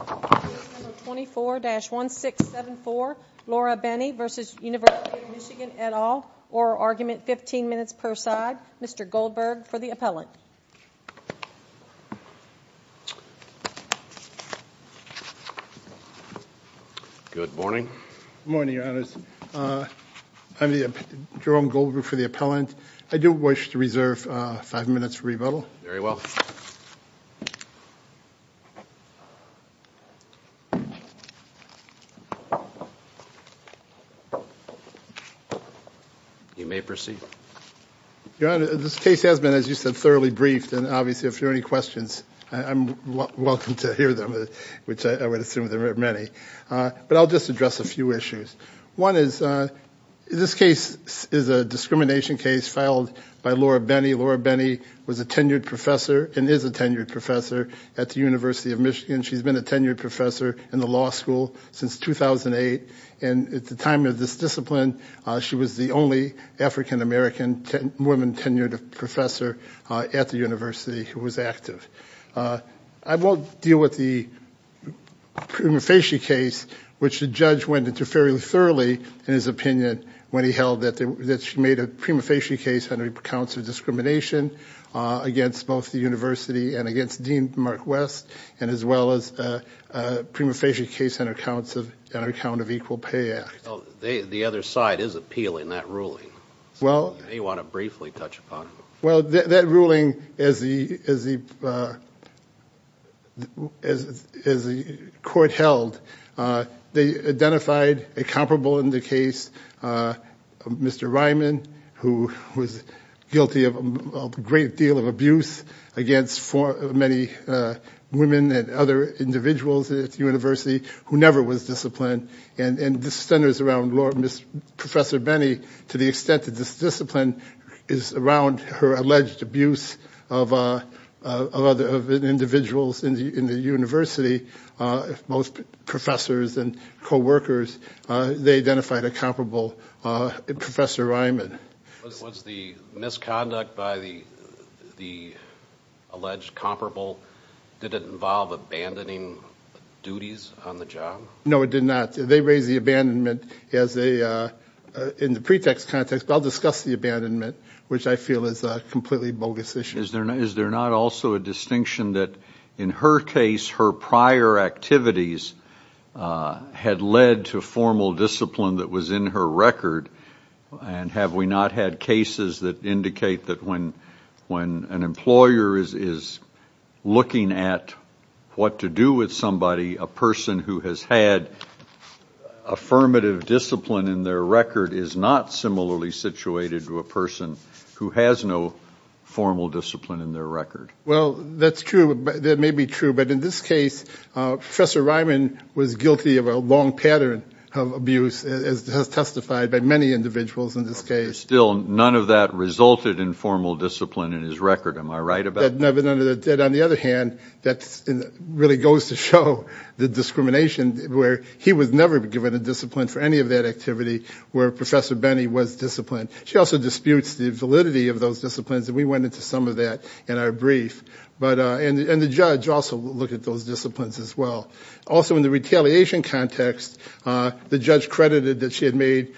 at all, or argument 15 minutes per side. Mr. Goldberg for the appellant. Good morning. Good morning, your honors. I'm Jerome Goldberg for the appellant. I do wish to reserve five minutes for rebuttal. Very well. You may proceed. Your honor, this case has been, as you said, thoroughly briefed, and obviously if there are any questions, I'm welcome to hear them, which I would assume there are many. But I'll just address a few was a tenured professor and is a tenured professor at the University of Michigan. She's been a tenured professor in the law school since 2008. And at the time of this discipline, she was the only African-American woman tenured professor at the university who was active. I won't deal with the prima facie case, which the judge went into fairly thoroughly in his discrimination against both the university and against Dean Mark West, and as well as prima facie case on account of Equal Pay Act. The other side is appealing that ruling. You may want to briefly touch upon it. Well, that ruling, as the court held, they identified a comparable in the case, Mr. Ryman, who was guilty of a great deal of abuse against many women and other individuals at the university who never was disciplined. And this centers around Professor Benny, to the extent that this discipline is around her alleged abuse of other individuals in the university, most professors and co-workers, they identified a comparable in Professor Ryman. Was the misconduct by the alleged comparable, did it involve abandoning duties on the job? No, it did not. They raised the abandonment as a, in the pretext context, but I'll discuss the abandonment, which I feel is a completely bogus issue. Is there not also a distinction that in her case, her prior activities had led to formal discipline that was in her record, and have we not had cases that indicate that when an employer is looking at what to do with somebody, a person who has had affirmative discipline in their record is not similarly situated to a person who has no formal discipline in their record? Well, that's true, that may be true, but in this case, Professor Ryman was guilty of a long pattern of abuse, as testified by many individuals in this case. Still, none of that resulted in formal discipline in his record, am I right about that? No, but on the other hand, that really goes to show the discrimination, where he was never given a discipline for any of that activity, where Professor Benny was disciplined. She also disputes the validity of those disciplines, and we went into some of that in our brief, and the judge also looked at those disciplines as well. Also, in the retaliation context, the judge credited that she had made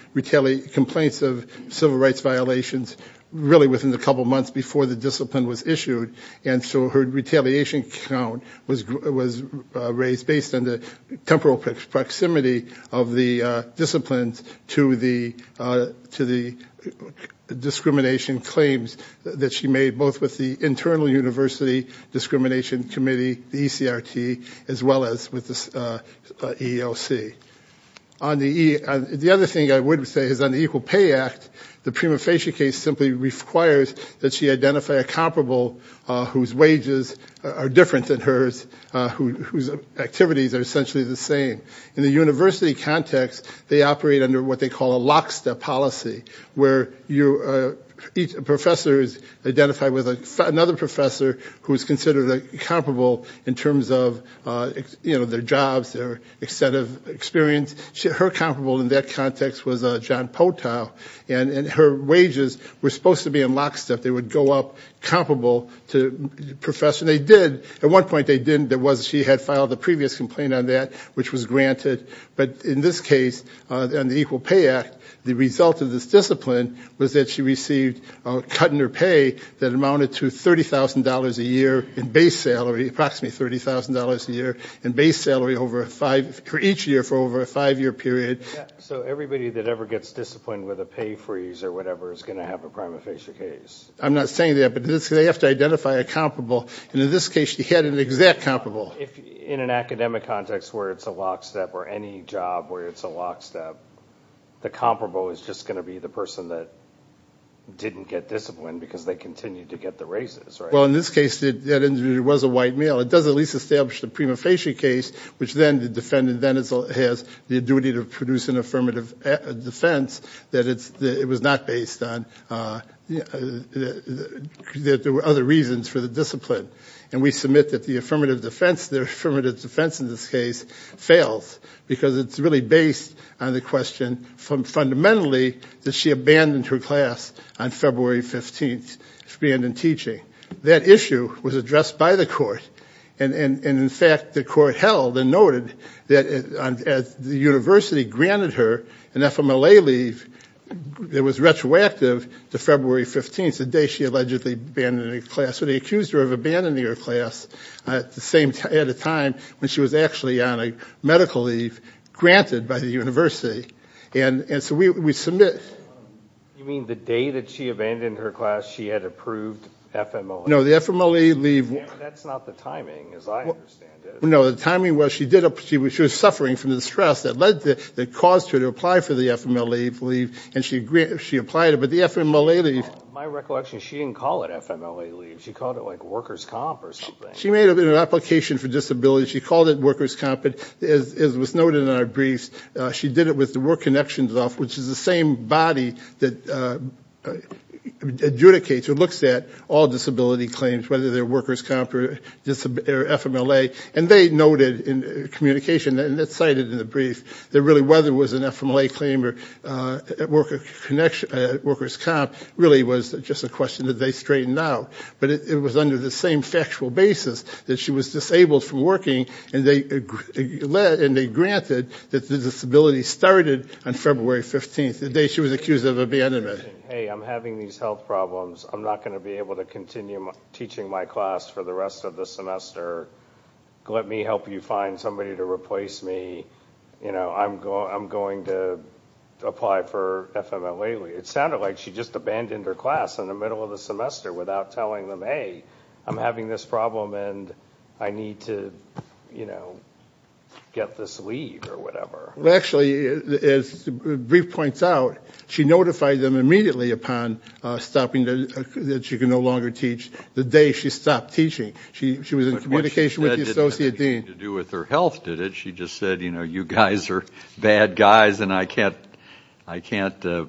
complaints of civil rights violations, really within the couple months before the discipline was issued, and so her retaliation count was raised based on the temporal proximity of the disciplines to the discrimination claims that she made, both with the Internal University Discrimination Committee, the ECRT, as well as with the EEOC. The other thing I would say is on the Equal Pay Act, the prima facie case simply requires that she identify a comparable whose wages are different than hers, whose activities are essentially the same. In the university context, they operate under what they call a lock-step policy, where each professor is identified with another professor who is considered comparable in terms of their jobs, their extent of experience. Her comparable in that context was John Hotow, and her wages were supposed to be in lock-step. They would go up comparable to the professor. They did. At one point, they didn't. She had filed a previous complaint on that, which was granted, but in this case, on the Equal Pay Act, the result of this discipline was that she received a cut in her pay that amounted to $30,000 a year in base salary, approximately $30,000 a year in base salary for each year for over a five-year period. So everybody that ever gets disciplined with a pay freeze or whatever is going to have a prima facie case? I'm not saying that, but they have to identify a comparable, and in this case, she had an exact comparable. In an academic context where it's a lock-step or any job where it's a lock-step, the comparable is just going to be the person that didn't get disciplined because they continued to get the raises, right? Well, in this case, it was a white male. It does at least establish the prima facie case, which then the defendant then has the duty to produce an affirmative defense that it was not based on, that there were other reasons for the discipline. And we submit that the affirmative defense, the affirmative defense in this case, fails because it's really based on the question from fundamentally that she abandoned her class on February 15th, abandoned teaching. That issue was addressed by the court, and in fact, the court held and noted that the university granted her an FMLA leave that was retroactive to February 15th, the day she allegedly abandoned her class. So they accused her of abandoning her class at the time when she was actually on a medical leave granted by the university. And so we submit... You mean the day that she abandoned her class, she had approved FMLA? No, the FMLA leave... That's not the timing, as I understand it. No, the timing was she was suffering from the stress that caused her to apply for the FMLA leave, and she applied it, but the FMLA leave... My recollection is she didn't call it FMLA leave. She called it like workers' comp or something. She made an application for disability. She called it workers' comp. As was noted in our briefs, she did it with the work connections off, which is the same body that adjudicates or looks at all disability claims, whether they're workers' comp or FMLA. And they noted in communication, and it's cited in the brief, that really whether it was an FMLA claim or workers' comp really was just a question that they straightened out. But it was under the same factual basis that she was disabled from working, and they granted that the disability started on February 15th, the day she was accused of a bad event. Hey, I'm having these health problems. I'm not going to be able to continue teaching my class for the rest of the semester. Let me help you find somebody to replace me. I'm going to apply for FMLA leave. It sounded like she just abandoned her class in the middle of the semester without telling them, Hey, I'm having this problem, and I need to get this leave or whatever. Actually, as the brief points out, she notified them immediately upon stopping that she could no longer teach the day she stopped teaching. She was in communication with the associate dean. It had nothing to do with her health, did it? She just said, you know, you guys are bad guys, and I can't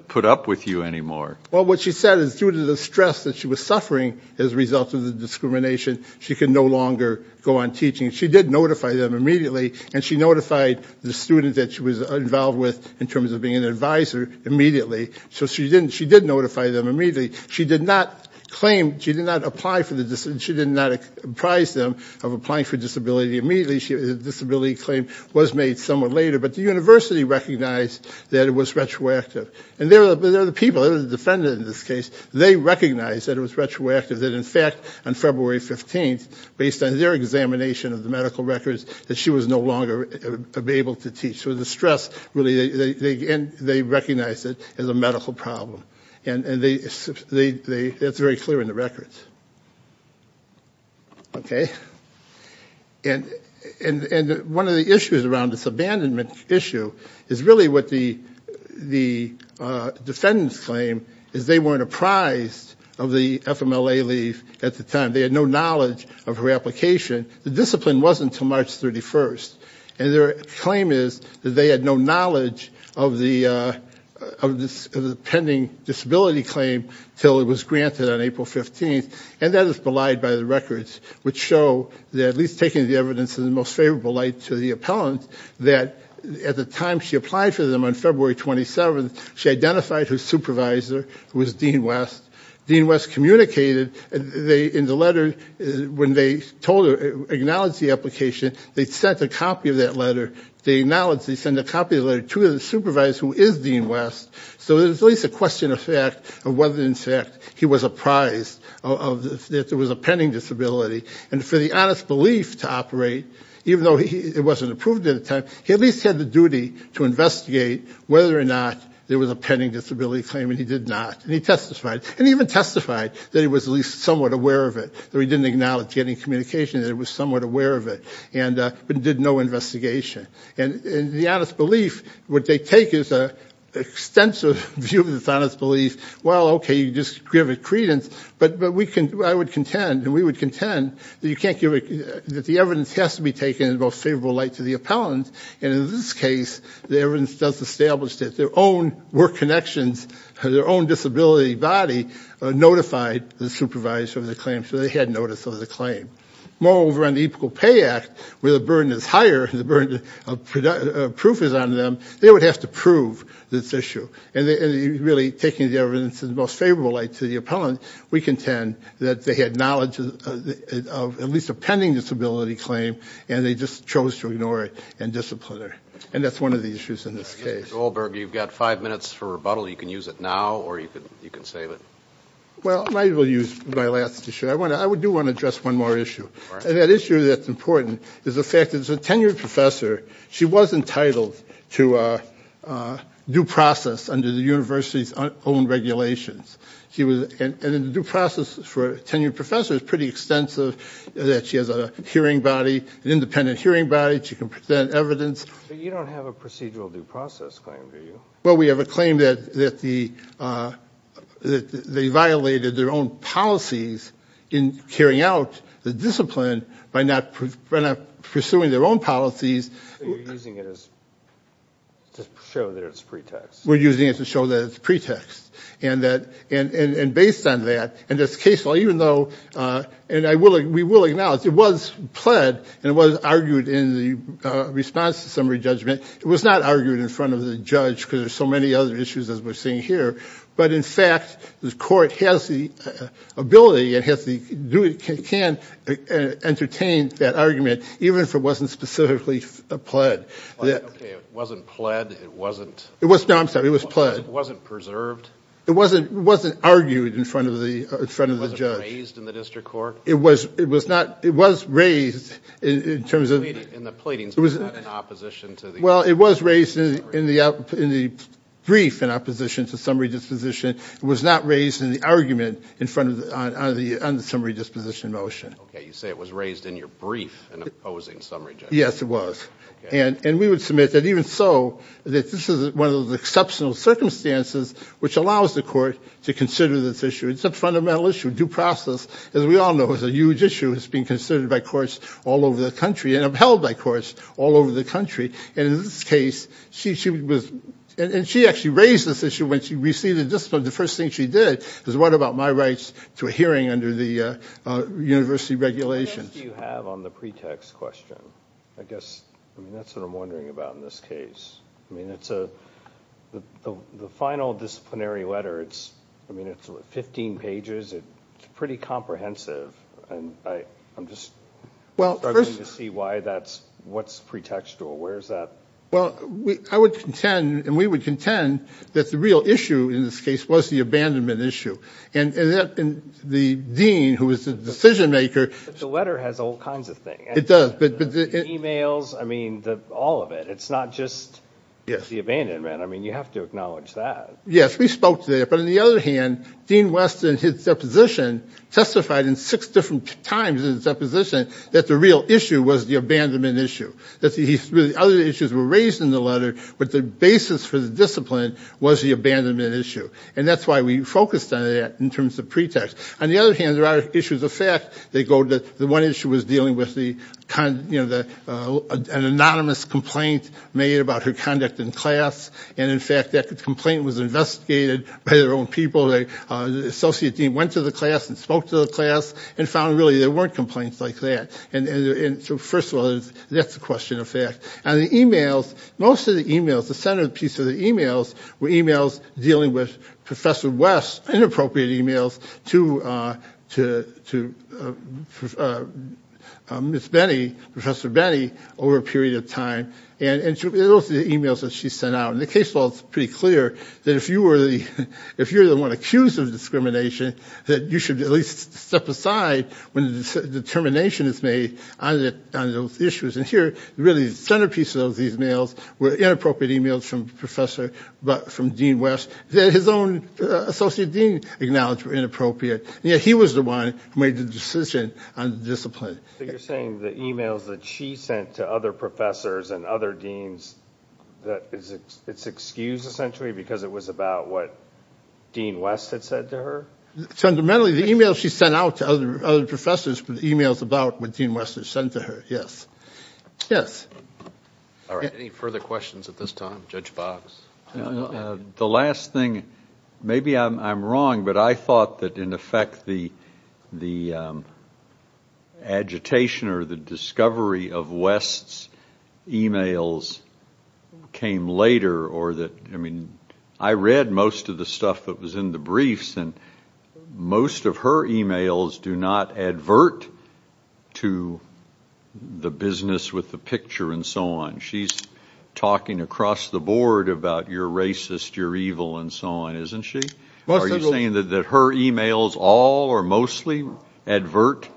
put up with you anymore. Well, what she said is due to the stress that she was suffering as a result of the discrimination, she could no longer go on teaching. She did notify them immediately, and she notified the students that she was involved with in terms of being an advisor immediately. So she did notify them immediately. She did not claim, she did not apprise them of applying for disability immediately. The disability claim was made somewhat later, but the university recognized that it was retroactive. And they're the people, the defendants in this case, they recognized that it was retroactive, that in fact, on February 15th, based on their examination of the medical records, that she was no longer able to teach. So the stress really, they recognized it as a medical problem, and that's very clear in the records. Okay. And one of the issues around this abandonment issue is really what the defendants claim, is they weren't apprised of the FMLA leave at the time. They had no knowledge of her application. The discipline wasn't until March 31st, and their claim is that they had no knowledge of the pending disability claim until it was granted on April 15th, and that is belied by the records, which show that, at least taking the evidence in the most favorable light to the appellant, that at the time she applied for them on February 27th, she identified her supervisor, who was Dean West. Dean West communicated in the letter, when they told her, acknowledged the application, they sent a copy of that letter. They acknowledged, they sent a copy of the letter to the supervisor, who is Dean West. So there's at least a question of fact of whether, in fact, he was apprised that there was a pending disability. And for the honest belief to operate, even though it wasn't approved at the time, he at least had the duty to investigate whether or not there was a pending disability claim, and he did not. And he testified. And he even testified that he was at least somewhat aware of it, that he didn't acknowledge any communication, that he was somewhat aware of it, but did no investigation. And the honest belief, what they take is an extensive view of this honest belief, well, okay, you just give it credence, but I would contend, and we would contend, that you can't give it, that the evidence has to be taken in the most favorable light to the appellant, and in this case, the evidence does establish that their own work connections, their own disability body notified the supervisor of the claim, so they had notice of the claim. Moreover, on the Equal Pay Act, where the burden is higher, the burden of proof is on them, they would have to prove this issue. And really, taking the evidence in the most favorable light to the appellant, we contend that they had knowledge of at least a pending disability claim, and they just chose to ignore it and discipline her. And that's one of the issues in this case. Joel Berg, you've got five minutes for rebuttal. You can use it now, or you can save it. Well, I will use my last issue. I do want to address one more issue. And that issue that's important is the fact that as a tenured professor, she was entitled to due process under the university's own regulations. And the due process for a tenured professor is pretty extensive, that she has a hearing body, an independent hearing body, she can present evidence. But you don't have a procedural due process claim, do you? Well, we have a claim that they violated their own policies in carrying out the discipline by not pursuing their own policies. So you're using it to show that it's pretext. We're using it to show that it's pretext. And based on that, and it's case law, even though, and we will acknowledge, it was pled, and it was argued in the response to summary judgment. It was not argued in front of the judge because there's so many other issues, as we're seeing here. But, in fact, the court has the ability and can entertain that argument, even if it wasn't specifically pled. Okay, it wasn't pled, it wasn't preserved? It wasn't argued in front of the judge. It wasn't raised in the district court? It was raised in terms of... Well, it was raised in the brief in opposition to summary disposition. It was not raised in the argument on the summary disposition motion. Okay, you say it was raised in your brief in opposing summary judgment. Yes, it was. And we would submit that even so, that this is one of those exceptional circumstances which allows the court to consider this issue. It's a fundamental issue. Due process, as we all know, is a huge issue. It's being considered by courts all over the country and upheld by courts all over the country. And in this case, she was... And she actually raised this issue when she received the discipline. The first thing she did was write about my rights to a hearing under the university regulations. What text do you have on the pretext question? I guess that's what I'm wondering about in this case. I mean, the final disciplinary letter, it's 15 pages. It's pretty comprehensive. And I'm just struggling to see what's pretextual. Where is that? Well, I would contend, and we would contend, that the real issue in this case was the abandonment issue. And the dean, who was the decision maker... But the letter has all kinds of things. It does. Emails, I mean, all of it. It's not just the abandonment. I mean, you have to acknowledge that. Yes, we spoke to that. But on the other hand, Dean West in his deposition testified in six different times in his deposition that the real issue was the abandonment issue. That the other issues were raised in the letter, but the basis for the discipline was the abandonment issue. And that's why we focused on that in terms of pretext. On the other hand, there are issues of fact. The one issue was dealing with an anonymous complaint made about her conduct in class. And, in fact, that complaint was investigated by their own people. The associate dean went to the class and spoke to the class and found, really, there weren't complaints like that. And so, first of all, that's a question of fact. And the emails, most of the emails, the centerpiece of the emails, were emails dealing with Professor West's inappropriate emails to Miss Benny, Professor Benny, over a period of time. And those were the emails that she sent out. And the case law is pretty clear that if you were the one accused of discrimination, that you should at least step aside when the determination is made on those issues. And here, really, the centerpiece of these emails were inappropriate emails from Professor, from Dean West, that his own associate dean acknowledged were inappropriate. Yet he was the one who made the decision on the discipline. So you're saying the emails that she sent to other professors and other deans, it's excused, essentially, because it was about what Dean West had said to her? Fundamentally, the emails she sent out to other professors were emails about what Dean West had said to her, yes. Yes. All right. Any further questions at this time? Judge Box? The last thing, maybe I'm wrong, but I thought that, in effect, the agitation or the discovery of West's emails came later. I mean, I read most of the stuff that was in the briefs, and most of her emails do not advert to the business with the picture and so on. She's talking across the board about you're racist, you're evil, and so on, isn't she? Are you saying that her emails all or mostly advert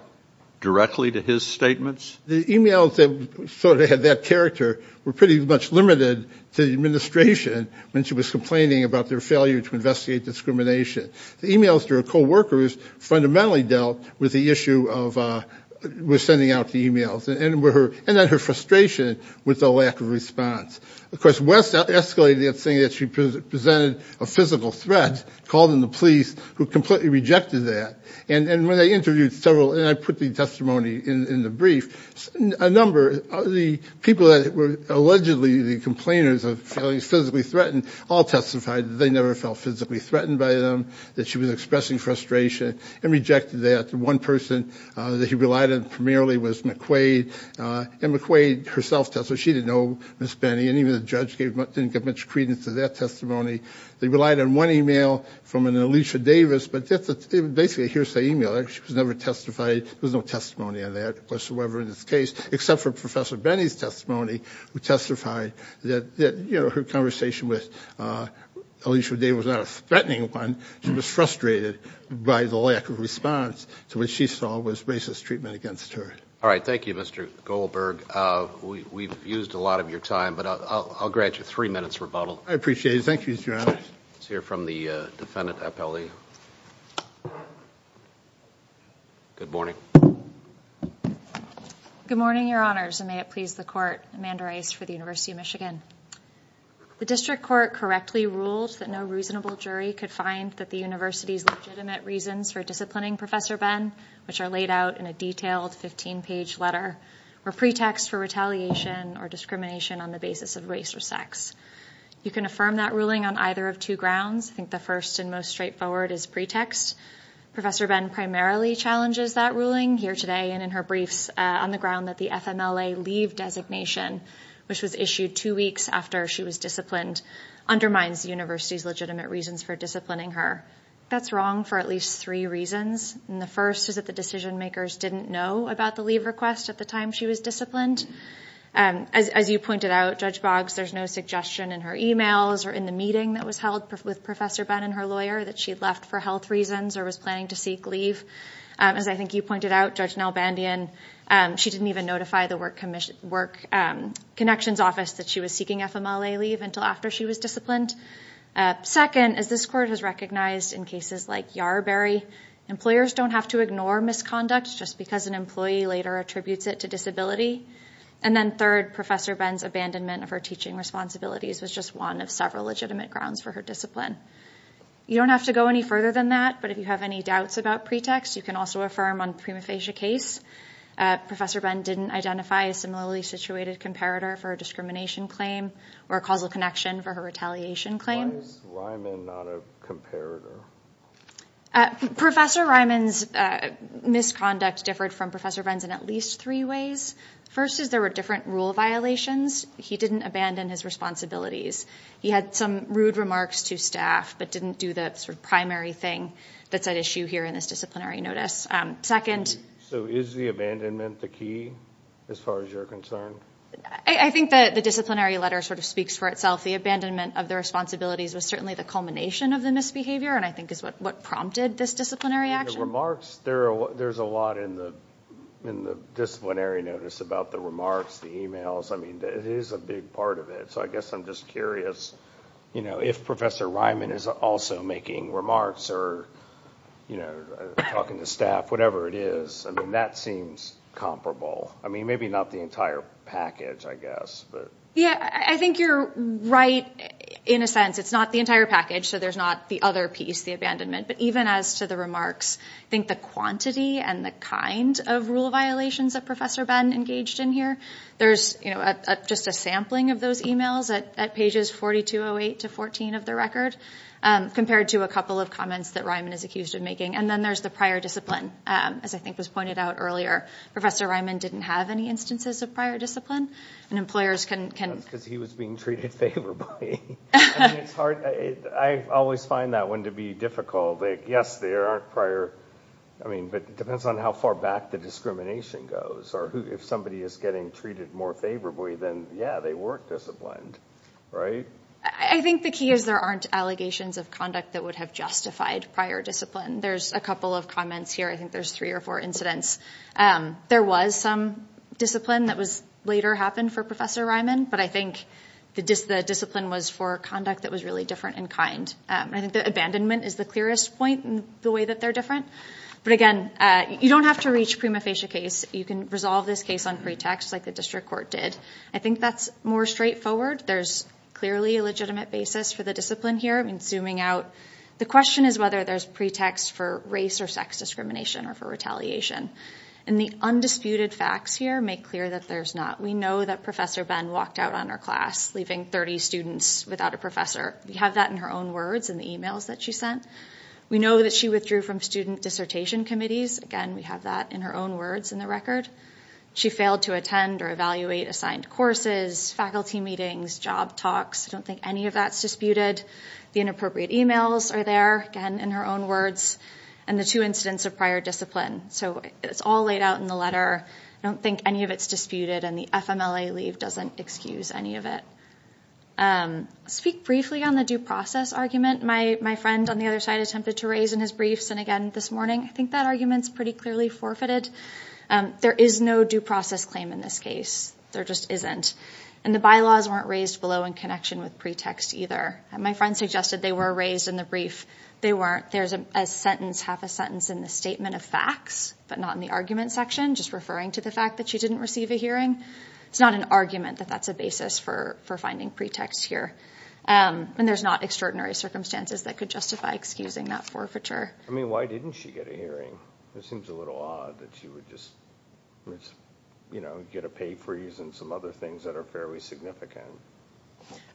directly to his statements? The emails that sort of had that character were pretty much limited to the administration when she was complaining about their failure to investigate discrimination. The emails to her co-workers fundamentally dealt with the issue of sending out the emails, and then her frustration with the lack of response. Of course, West escalated that saying that she presented a physical threat, called in the police, who completely rejected that. And when I interviewed several, and I put the testimony in the brief, a number of the people that were allegedly the complainers of being physically threatened all testified that they never felt physically threatened by them, that she was expressing frustration, and rejected that. One person that he relied on primarily was McQuaid, and McQuaid herself testified. She didn't know Ms. Benny, and even the judge didn't give much credence to that testimony. They relied on one email from an Alicia Davis, but that's basically a hearsay email. She was never testified. There was no testimony on that whatsoever in this case, except for Professor Benny's testimony, who testified that her conversation with Alicia Davis was not a threatening one, she was frustrated by the lack of response to what she saw was racist treatment against her. All right. Thank you, Mr. Goldberg. We've used a lot of your time, but I'll grant you three minutes rebuttal. I appreciate it. Thank you, Mr. Honors. Let's hear from the defendant appellee. Good morning. Good morning, Your Honors, and may it please the Court. Amanda Rice for the University of Michigan. The district court correctly ruled that no reasonable jury could find that the university's legitimate reasons for disciplining Professor Ben, which are laid out in a detailed 15-page letter, were pretext for retaliation or discrimination on the basis of race or sex. You can affirm that ruling on either of two grounds. I think the first and most straightforward is pretext. Professor Ben primarily challenges that ruling here today and in her briefs on the ground that the FMLA leave designation, which was issued two weeks after she was disciplined, undermines the university's legitimate reasons for disciplining her. That's wrong for at least three reasons. The first is that the decision-makers didn't know about the leave request at the time she was disciplined. As you pointed out, Judge Boggs, there's no suggestion in her e-mails or in the meeting that was held with Professor Ben and her lawyer that she had left for health reasons or was planning to seek leave. As I think you pointed out, Judge Nalbandian, she didn't even notify the work connections office that she was seeking FMLA leave until after she was disciplined. Second, as this court has recognized in cases like Yarraberry, employers don't have to ignore misconduct just because an employee later attributes it to disability. And then third, Professor Ben's abandonment of her teaching responsibilities was just one of several legitimate grounds for her discipline. You don't have to go any further than that, but if you have any doubts about pretext, you can also affirm on the prima facie case. Professor Ben didn't identify a similarly situated comparator for a discrimination claim or a causal connection for her retaliation claim. Why is Ryman not a comparator? Professor Ryman's misconduct differed from Professor Ben's in at least three ways. First is there were different rule violations. He didn't abandon his responsibilities. He had some rude remarks to staff but didn't do the sort of primary thing that's at issue here in this disciplinary notice. So is the abandonment the key as far as you're concerned? I think that the disciplinary letter sort of speaks for itself. The abandonment of the responsibilities was certainly the culmination of the misbehavior and I think is what prompted this disciplinary action. The remarks, there's a lot in the disciplinary notice about the remarks, the emails. I mean, it is a big part of it. So I guess I'm just curious if Professor Ryman is also making remarks or talking to staff, whatever it is. I mean, that seems comparable. I mean, maybe not the entire package, I guess. Yeah, I think you're right in a sense. It's not the entire package, so there's not the other piece, the abandonment. But even as to the remarks, I think the quantity and the kind of rule violations that Professor Ben engaged in here. There's just a sampling of those emails at pages 4208 to 414 of the record compared to a couple of comments that Ryman is accused of making. And then there's the prior discipline. As I think was pointed out earlier, Professor Ryman didn't have any instances of prior discipline and employers can... That's because he was being treated favorably. I mean, it's hard. I always find that one to be difficult. Yes, there are prior... I mean, but it depends on how far back the discrimination goes. Or if somebody is getting treated more favorably, then yeah, they were disciplined, right? I think the key is there aren't allegations of conduct that would have justified prior discipline. There's a couple of comments here. I think there's three or four incidents. There was some discipline that later happened for Professor Ryman, but I think the discipline was for conduct that was really different in kind. I think the abandonment is the clearest point in the way that they're different. But again, you don't have to reach prima facie case. You can resolve this case on pretext like the district court did. I think that's more straightforward. There's clearly a legitimate basis for the discipline here. I mean, zooming out, the question is whether there's pretext for race or sex discrimination or for retaliation. And the undisputed facts here make clear that there's not. We know that Professor Ben walked out on her class leaving 30 students without a professor. We have that in her own words in the e-mails that she sent. We know that she withdrew from student dissertation committees. Again, we have that in her own words in the record. She failed to attend or evaluate assigned courses, faculty meetings, job talks. I don't think any of that's disputed. The inappropriate e-mails are there, again, in her own words, and the two incidents of prior discipline. So it's all laid out in the letter. I don't think any of it's disputed, and the FMLA leave doesn't excuse any of it. I'll speak briefly on the due process argument. My friend on the other side attempted to raise in his briefs, and again this morning, I think that argument's pretty clearly forfeited. There is no due process claim in this case. There just isn't. And the bylaws weren't raised below in connection with pretext either. My friend suggested they were raised in the brief. They weren't. There's a sentence, half a sentence, in the statement of facts, but not in the argument section, just referring to the fact that she didn't receive a hearing. It's not an argument that that's a basis for finding pretext here. And there's not extraordinary circumstances that could justify excusing that forfeiture. I mean, why didn't she get a hearing? It seems a little odd that she would just get a pay freeze and some other things that are fairly significant.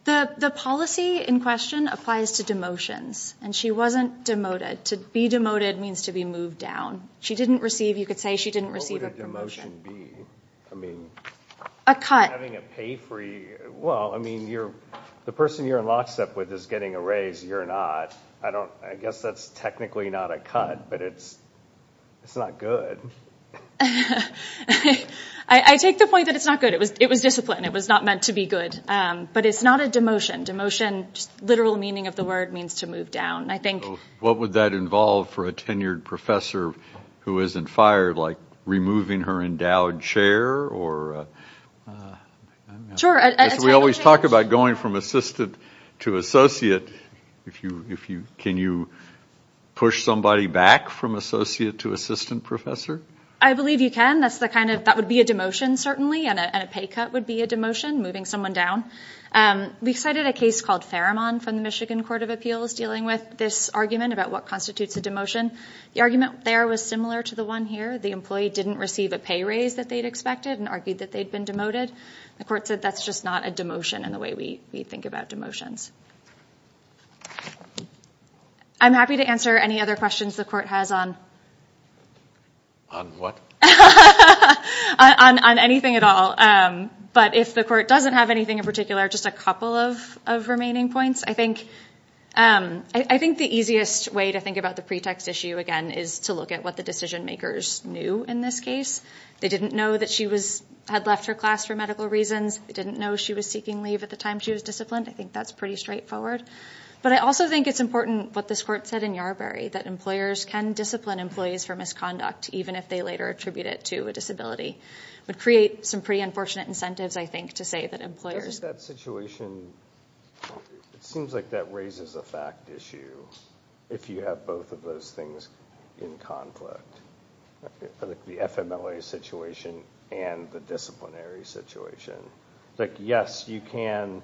The policy in question applies to demotions, and she wasn't demoted. To be demoted means to be moved down. She didn't receive, you could say she didn't receive a promotion. A cut. Well, I mean, the person you're in lockstep with is getting a raise, you're not. I guess that's technically not a cut, but it's not good. I take the point that it's not good. It was discipline. It was not meant to be good. But it's not a demotion. Demotion, literal meaning of the word, means to move down. What would that involve for a tenured professor who isn't fired, like removing her endowed chair? We always talk about going from assistant to associate. Can you push somebody back from associate to assistant professor? I believe you can. That would be a demotion, certainly, and a pay cut would be a demotion, moving someone down. We cited a case called Faramon from the Michigan Court of Appeals dealing with this argument about what constitutes a demotion. The argument there was similar to the one here. The employee didn't receive a pay raise that they'd expected and argued that they'd been demoted. The court said that's just not a demotion in the way we think about demotions. I'm happy to answer any other questions the court has on… On what? On anything at all. But if the court doesn't have anything in particular, just a couple of remaining points. I think the easiest way to think about the pretext issue, again, is to look at what the decision makers knew in this case. They didn't know that she had left her class for medical reasons. They didn't know she was seeking leave at the time she was disciplined. I think that's pretty straightforward. But I also think it's important what this court said in Yarbrough, that employers can discipline employees for misconduct, even if they later attribute it to a disability. It would create some pretty unfortunate incentives, I think, to say that employers… It seems like that raises a fact issue, if you have both of those things in conflict. The FMLA situation and the disciplinary situation. Yes, you can,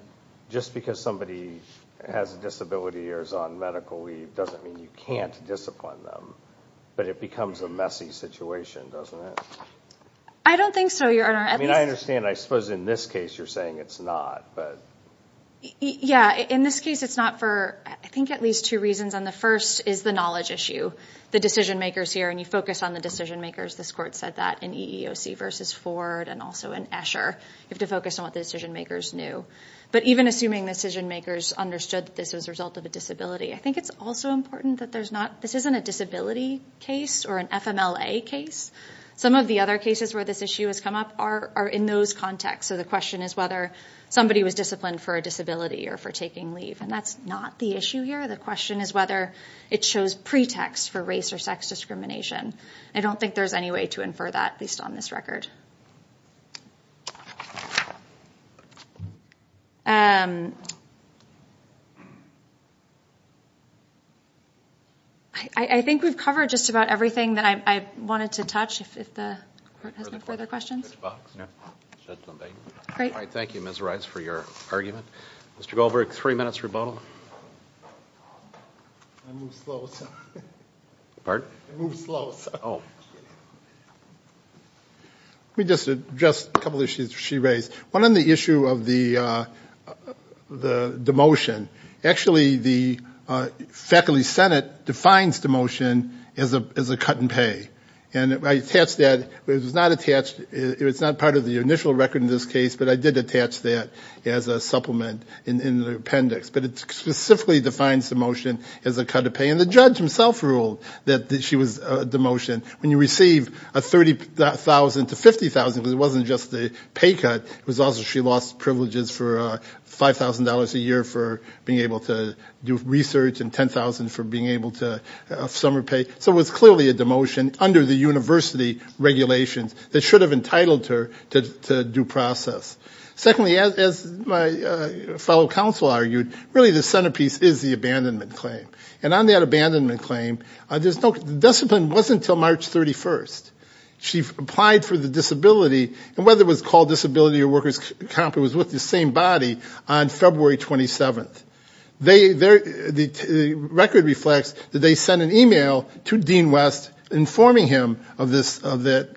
just because somebody has a disability or is on medical leave, doesn't mean you can't discipline them. But it becomes a messy situation, doesn't it? I don't think so, Your Honor. I mean, I understand. I suppose in this case you're saying it's not. Yes, in this case it's not for, I think, at least two reasons. The first is the knowledge issue. The decision makers here, and you focus on the decision makers. This court said that in EEOC v. Ford and also in Escher. You have to focus on what the decision makers knew. But even assuming decision makers understood this was a result of a disability, I think it's also important that this isn't a disability case or an FMLA case. Some of the other cases where this issue has come up are in those contexts. So the question is whether somebody was disciplined for a disability or for taking leave. And that's not the issue here. The question is whether it shows pretext for race or sex discrimination. I don't think there's any way to infer that, at least on this record. I think we've covered just about everything that I wanted to touch. If the court has no further questions. All right. Thank you, Ms. Rice, for your argument. Mr. Goldberg, three minutes rebuttal. I move slow, sir. Pardon? I move slow, sir. Oh. Let me just address a couple of issues she raised. One on the issue of the demotion. Actually, the Faculty Senate defines demotion as a cut in pay. And I attached that. It was not part of the initial record in this case, but I did attach that as a supplement in the appendix. But it specifically defines demotion as a cut of pay. And the judge himself ruled that she was demotioned. When you receive a $30,000 to $50,000, because it wasn't just a pay cut, it was also she lost privileges for $5,000 a year for being able to do research and $10,000 for being able to summer pay. So it was clearly a demotion under the university regulations that should have entitled her to due process. Secondly, as my fellow counsel argued, really the centerpiece is the abandonment claim. And on that abandonment claim, the discipline wasn't until March 31st. She applied for the disability, and whether it was called disability or worker's comp it was with the same body, on February 27th. The record reflects that they sent an email to Dean West informing him of that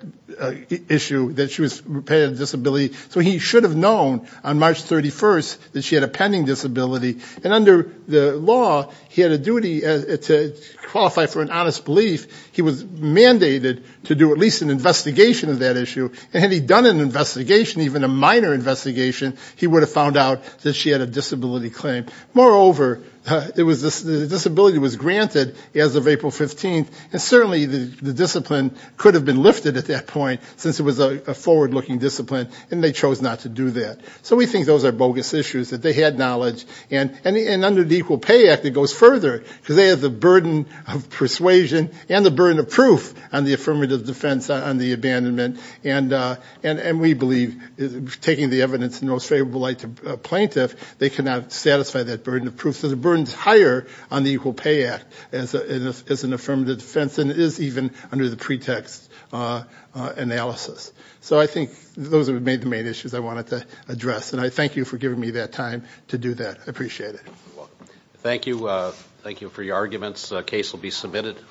issue, that she had a disability. So he should have known on March 31st that she had a pending disability. And under the law, he had a duty to qualify for an honest belief. He was mandated to do at least an investigation of that issue. And had he done an investigation, even a minor investigation, he would have found out that she had a disability claim. Moreover, the disability was granted as of April 15th, and certainly the discipline could have been lifted at that point since it was a forward-looking discipline, and they chose not to do that. So we think those are bogus issues, that they had knowledge. And under the Equal Pay Act, it goes further because they have the burden of persuasion and the burden of proof on the affirmative defense on the abandonment. And we believe, taking the evidence in the most favorable light to a plaintiff, they cannot satisfy that burden of proof. So the burden is higher on the Equal Pay Act as an affirmative defense than it is even under the pretext analysis. So I think those are the main issues I wanted to address. And I thank you for giving me that time to do that. I appreciate it. You're welcome. Thank you. Thank you for your arguments. The case will be submitted.